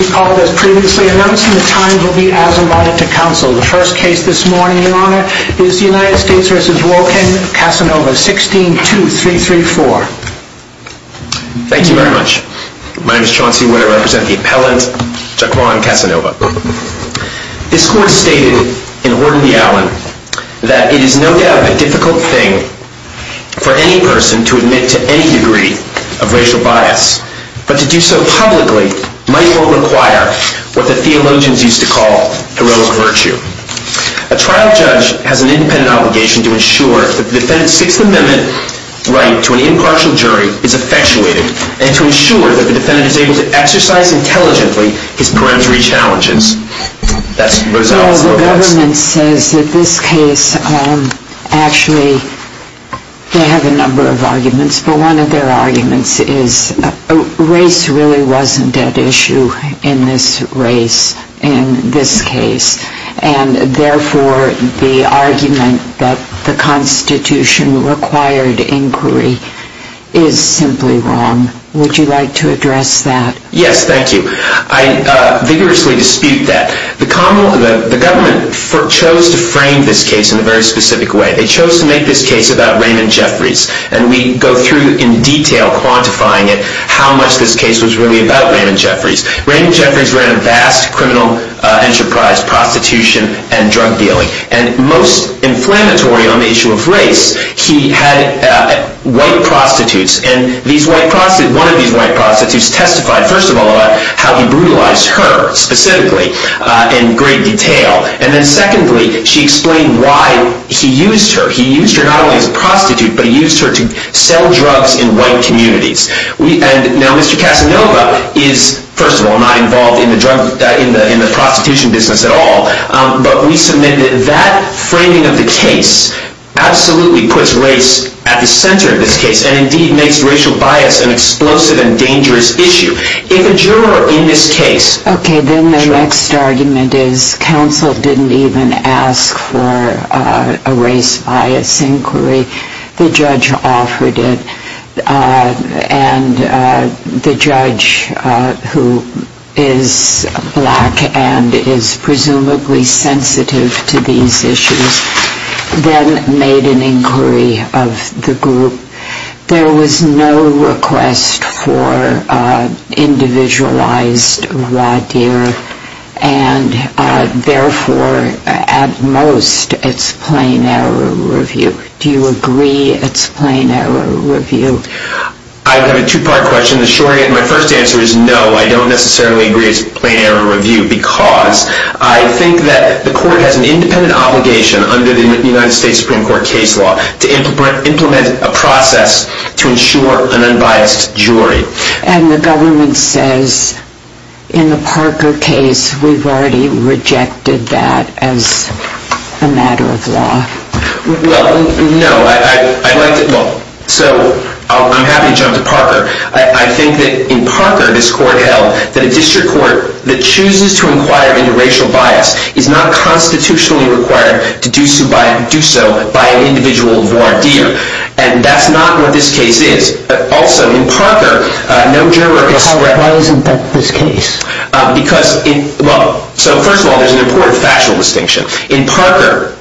Thank you very much. My name is Chauncey Winner. I represent the appellant, Jaquan Casanova. This court stated in Order of the Allen that it is no doubt a difficult thing for any person to admit to any degree of racial bias, but to do so publicly might or require what the theologians used to call heroic virtue. A trial judge has an independent obligation to ensure that the defendant's Sixth Amendment right to an impartial jury is effectuated, and to ensure that the defendant is able to exercise intelligently his peremptory challenges. Well, the government says that this case, actually they have a number of arguments, but one of their arguments is race really wasn't at issue in this race in this case, and therefore the argument that the Constitution required inquiry is simply wrong. Would you like to address that? Yes, thank you. I vigorously dispute that. The government chose to frame this case in a very specific way. They chose to make this case about Raymond Jeffries, and we go through in detail quantifying it, how much this case was really about Raymond Jeffries. Raymond Jeffries ran a vast criminal enterprise, prostitution and drug dealing, and most inflammatory on the issue of race, he had white prostitutes, and one of these white prostitutes testified, first of all, about how he brutalized her, specifically, in great detail, and then secondly, she explained why he used her. He used her not only as a prostitute, but he used her to sell drugs in white communities. Now, Mr. Casanova is, first of all, not involved in the prostitution business at all, but we submit that that framing of the case absolutely puts race at the center of this case, and indeed makes racial bias an explosive and dangerous issue. If a juror in this case... Okay, then the next argument is counsel didn't even ask for a race bias inquiry. The judge offered it, and the judge, who is black and is presumably sensitive to these issues, then made an inquiry of the group. There was no request for individualized radio, and therefore, at most, it's plain error review. Do you agree it's plain error review? I have a two-part question. The short answer is no, I don't necessarily agree it's plain error review, because I think that the court has an independent obligation under the United States Supreme Court case law to implement a process to ensure an unbiased jury. And the government says, in the Parker case, we've already rejected that as a matter of law. Well, no, I'd like to... I think that in Parker, this court held that a district court that chooses to inquire into racial bias is not constitutionally required to do so by an individual of more idea. And that's not what this case is. Also, in Parker, no juror expressed... Why isn't that this case? First of all, there's an important factual distinction. In Parker,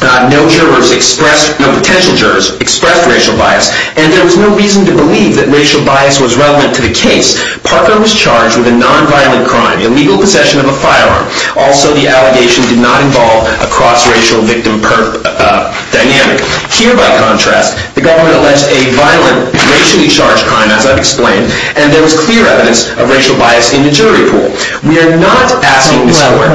no potential jurors expressed racial bias, and there was no reason to believe that racial bias was relevant to the case. Parker was charged with a nonviolent crime, illegal possession of a firearm. Also, the allegation did not involve a cross-racial victim dynamic. Here, by contrast, the government alleged a violent, racially charged crime, as I've explained, and there was clear evidence of racial bias in the jury pool. We are not asking this court...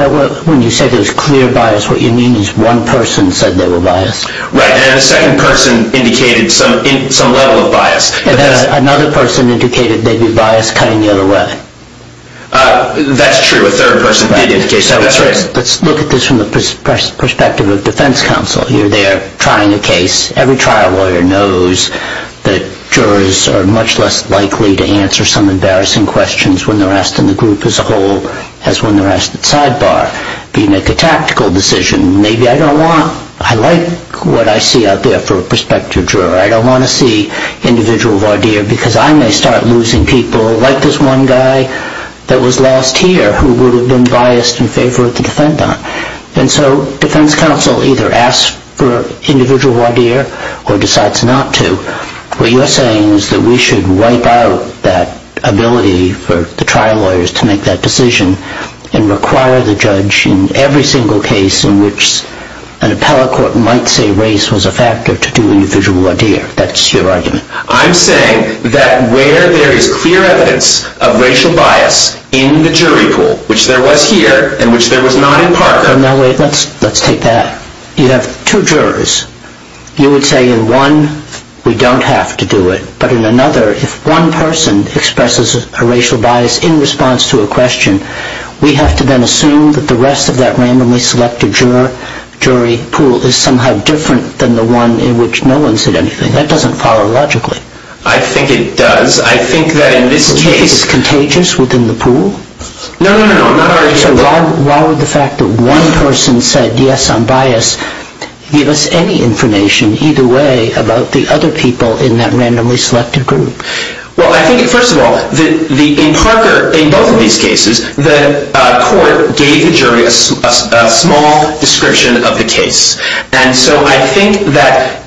When you say there's clear bias, what you mean is one person said they were biased. Right, and a second person indicated some level of bias. Another person indicated they'd be biased cutting the other way. That's true. A third person did indicate that. Let's look at this from the perspective of defense counsel. You're there trying a case. Every trial lawyer knows that jurors are much less likely to answer some embarrassing questions when they're asked in the group as a whole as when they're asked at sidebar. You make a tactical decision. Maybe I don't want... I like what I see out there for a prospective juror. I don't want to see individual voir dire because I may start losing people, like this one guy that was lost here who would have been biased in favor of the defendant. And so defense counsel either asks for individual voir dire or decides not to. What you're saying is that we should wipe out that ability for the trial lawyers to make that decision and require the judge in every single case in which an appellate court might say race was a factor to do individual voir dire. That's your argument. I'm saying that where there is clear evidence of racial bias in the jury pool, which there was here and which there was not in Parker... No, wait, let's take that. You have two jurors. You would say in one we don't have to do it, but in another if one person expresses a racial bias in response to a question, we have to then assume that the rest of that randomly selected jury pool is somehow different than the one in which no one said anything. That doesn't follow logically. I think it does. I think that in this case... Do you think it's contagious within the pool? No, no, no. So why would the fact that one person said, yes, I'm biased, give us any information either way about the other people in that randomly selected group? Well, I think, first of all, in Parker, in both of these cases, the court gave the jury a small description of the case. And so I think that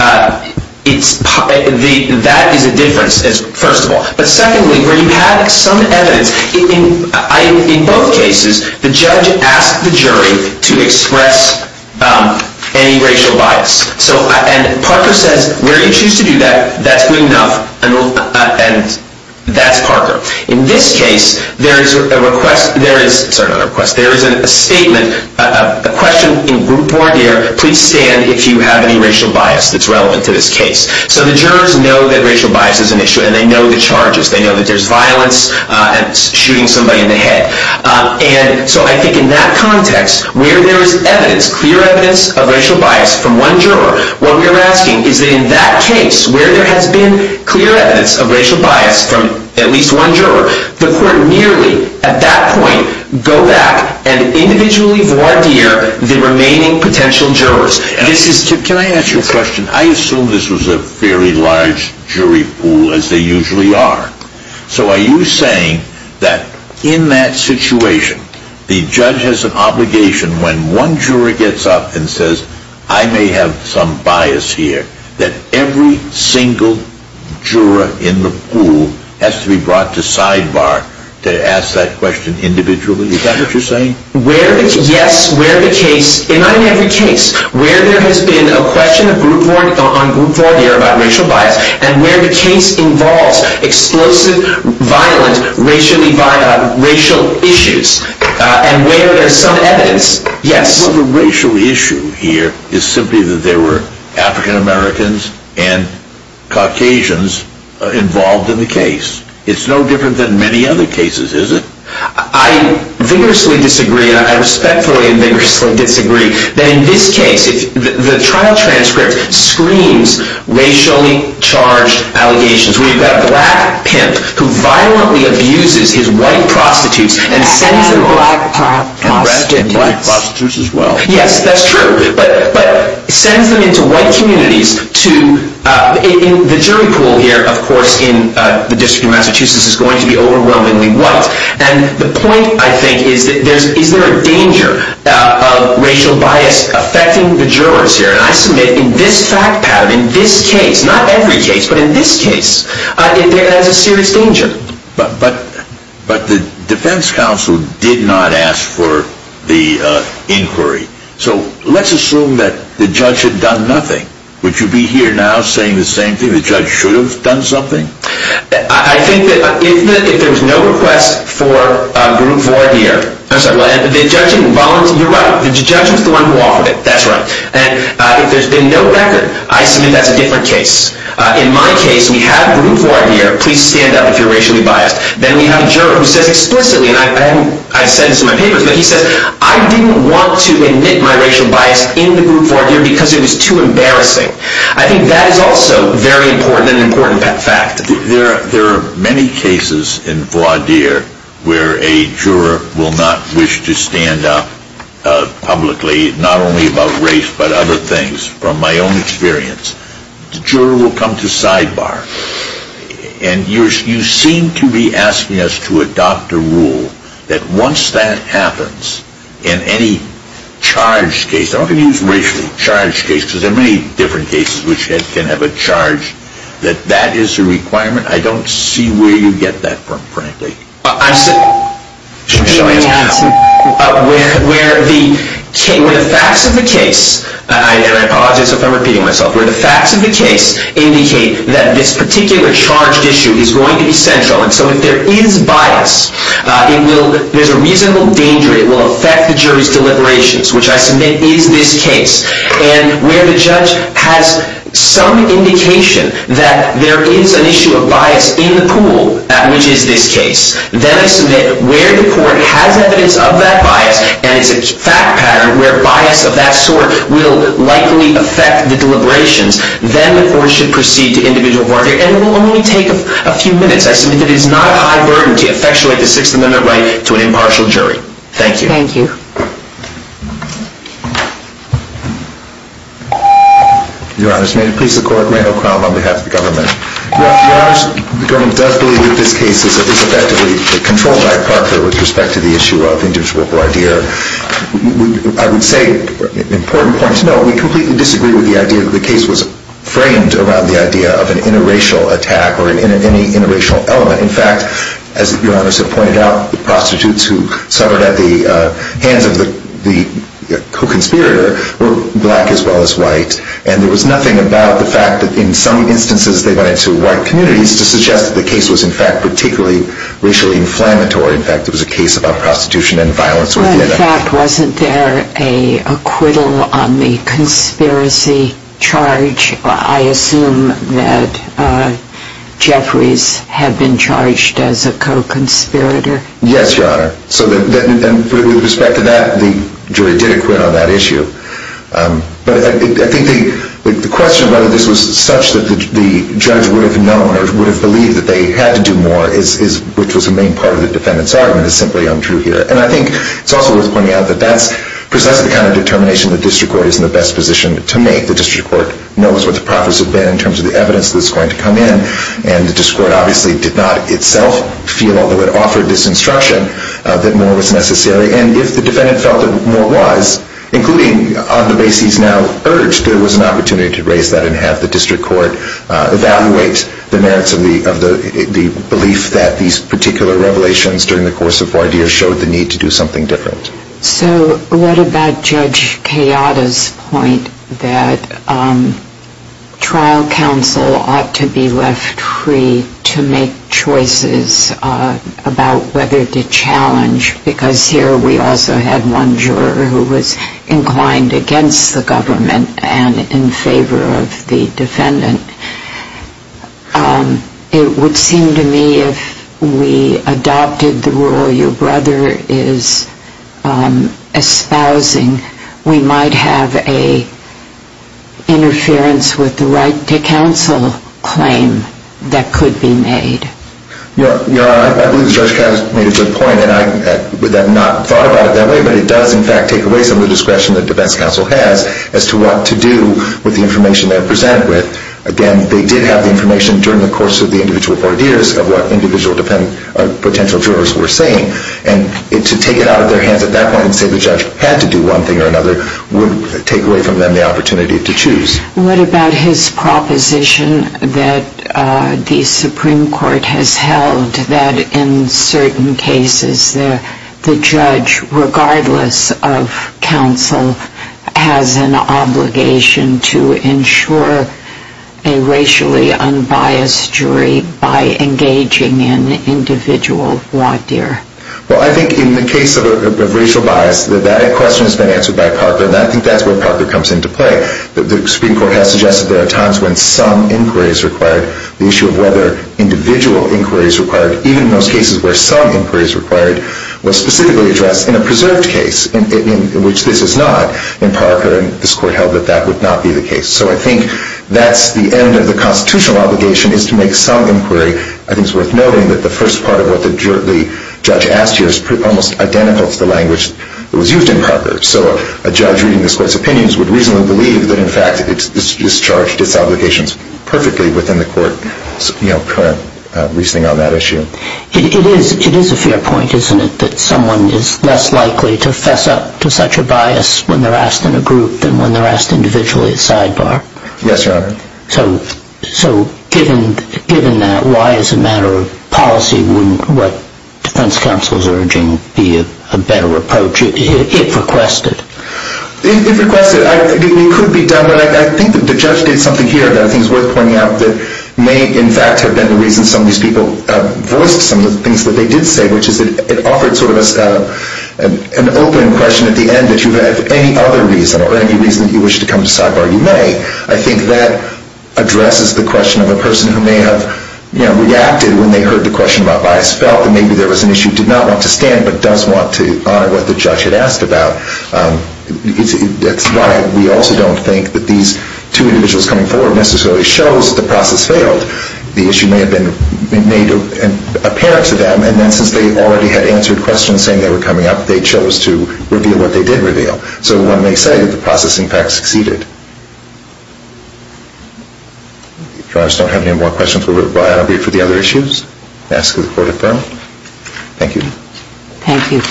that is a difference, first of all. But secondly, where you have some evidence, in both cases, the judge asked the jury to express any racial bias. And Parker says, where you choose to do that, that's good enough. And that's Parker. In this case, there is a request... Sorry, not a request. There is a statement, a question in group order, please stand if you have any racial bias that's relevant to this case. So the jurors know that racial bias is an issue, and they know the charges. They know that there's violence and shooting somebody in the head. And so I think in that context, where there is evidence, clear evidence of racial bias from one juror, what we are asking is that in that case, where there has been clear evidence of racial bias from at least one juror, the court merely, at that point, go back and individually voir dire the remaining potential jurors. Can I ask you a question? I assume this was a fairly large jury pool, as they usually are. So are you saying that in that situation, the judge has an obligation when one juror gets up and says, I may have some bias here, that every single juror in the pool has to be brought to sidebar to ask that question individually? Is that what you're saying? Yes, where the case... Not in every case. Where there has been a question on group voir dire about racial bias, and where the case involves explosive violent racial issues, and where there's some evidence, yes. Well, the racial issue here is simply that there were African Americans and Caucasians involved in the case. It's no different than many other cases, is it? I vigorously disagree, and I respectfully and vigorously disagree, that in this case, the trial transcript screams racially charged allegations. We've got a black pimp who violently abuses his white prostitutes and sends them off. And black prostitutes as well. Yes, that's true. But sends them into white communities to... The jury pool here, of course, in the District of Massachusetts, is going to be overwhelmingly white. And the point, I think, is that there's... Is there a danger of racial bias affecting the jurors here? And I submit, in this fact pattern, in this case, not every case, but in this case, there is a serious danger. But the defense counsel did not ask for the inquiry. So let's assume that the judge had done nothing. Would you be here now saying the same thing? The judge should have done something? I think that if there was no request for a group for a year... I'm sorry, the judge didn't volunteer... You're right. The judge was the one who offered it. That's right. And if there's been no record, I submit that's a different case. In my case, we have a group for a year. Please stand up if you're racially biased. Then we have a juror who says explicitly, and I said this in my papers, but he says, I didn't want to admit my racial bias in the group for a year because it was too embarrassing. I think that is also very important and an important fact. There are many cases in voir dire where a juror will not wish to stand up publicly, not only about race, but other things. From my own experience, the juror will come to sidebar. And you seem to be asking us to adopt a rule that once that happens in any charged case... I'm not going to use racially charged case because there are many different cases which can have a charge, that that is a requirement. I don't see where you get that from, frankly. I'm sorry. Where the facts of the case... And I apologize if I'm repeating myself. Where the facts of the case indicate that this particular charged issue is going to be central. And so if there is bias, there's a reasonable danger it will affect the jury's deliberations, which I submit is this case. And where the judge has some indication that there is an issue of bias in the pool, which is this case, then I submit where the court has evidence of that bias and it's a fact pattern where bias of that sort will likely affect the deliberations, then the court should proceed to individual voir dire. And it will only take a few minutes. I submit that it is not a high burden to effectuate the Sixth Amendment right to an impartial jury. Thank you. Thank you. Your Honor, may it please the court, Randall Crown on behalf of the government. Your Honor, the government does believe that this case is effectively controlled by Parker with respect to the issue of individual voir dire. I would say, important point to note, we completely disagree with the idea that the case was framed around the idea of an interracial attack or any interracial element. In fact, as Your Honor has pointed out, the prostitutes who suffered at the hands of the co-conspirator were black as well as white. And there was nothing about the fact that in some instances they went into white communities to suggest that the case was in fact particularly racially inflammatory. In fact, it was a case about prostitution and violence. In fact, wasn't there an acquittal on the conspiracy charge? I assume that Jeffries had been charged as a co-conspirator. Yes, Your Honor. With respect to that, the jury did acquit on that issue. But I think the question of whether this was such that the judge would have known or would have believed that they had to do more, which was the main part of the defendant's argument, is simply untrue here. And I think it's also worth pointing out that that's precisely the kind of determination the district court is in the best position to make. The district court knows what the profits have been in terms of the evidence that's going to come in, and the district court obviously did not itself feel that it offered this instruction that more was necessary. And if the defendant felt that more was, including on the basis now urged, there was an opportunity to raise that and have the district court evaluate the merits of the belief that these particular revelations during the course of four years showed the need to do something different. So what about Judge Kayada's point that trial counsel ought to be left free to make choices about whether to challenge? Because here we also had one juror who was inclined against the government and in favor of the defendant. It would seem to me if we adopted the rule your brother is espousing, we might have an interference with the right to counsel claim that could be made. I believe Judge Kayada made a good point, and I have not thought about it that way, but it does in fact take away some of the discretion that defense counsel has as to what to do with the information they are presented with. Again, they did have the information during the course of the individual four years of what individual potential jurors were saying, and to take it out of their hands at that point and say the judge had to do one thing or another would take away from them the opportunity to choose. What about his proposition that the Supreme Court has held that in certain cases the judge, regardless of counsel, has an obligation to ensure a racially unbiased jury by engaging in individual voir dire? Well, I think in the case of racial bias, that question has been answered by Parker, and I think that's where Parker comes into play. The Supreme Court has suggested there are times when some inquiry is required. The issue of whether individual inquiry is required, even in those cases where some inquiry is required, was specifically addressed in a preserved case, in which this is not, in Parker, and this Court held that that would not be the case. So I think that's the end of the constitutional obligation is to make some inquiry. I think it's worth noting that the first part of what the judge asked here is almost identical to the language that was used in Parker. So a judge reading this Court's opinions would reasonably believe that, in fact, it's discharged its obligations perfectly within the Court's, you know, current reasoning on that issue. It is a fair point, isn't it, that someone is less likely to fess up to such a bias when they're asked in a group than when they're asked individually at sidebar? Yes, Your Honor. So given that, why, as a matter of policy, wouldn't what defense counsel is urging be a better approach? If requested. If requested. It could be done, but I think the judge did something here that I think is worth pointing out that may, in fact, have been the reason some of these people voiced some of the things that they did say, which is that it offered sort of an open question at the end that if you have any other reason or any reason that you wish to come to sidebar, you may. I think that addresses the question of a person who may have reacted when they heard the question about bias felt and maybe there was an issue, did not want to stand, but does want to honor what the judge had asked about. That's why we also don't think that these two individuals coming forward necessarily shows that the process failed. The issue may have been made apparent to them, and then since they already had answered questions saying they were coming up, they chose to reveal what they did reveal. So one may say that the process, in fact, succeeded. If you guys don't have any more questions, we'll review it for the other issues and ask that the Court affirm. Thank you. Thank you.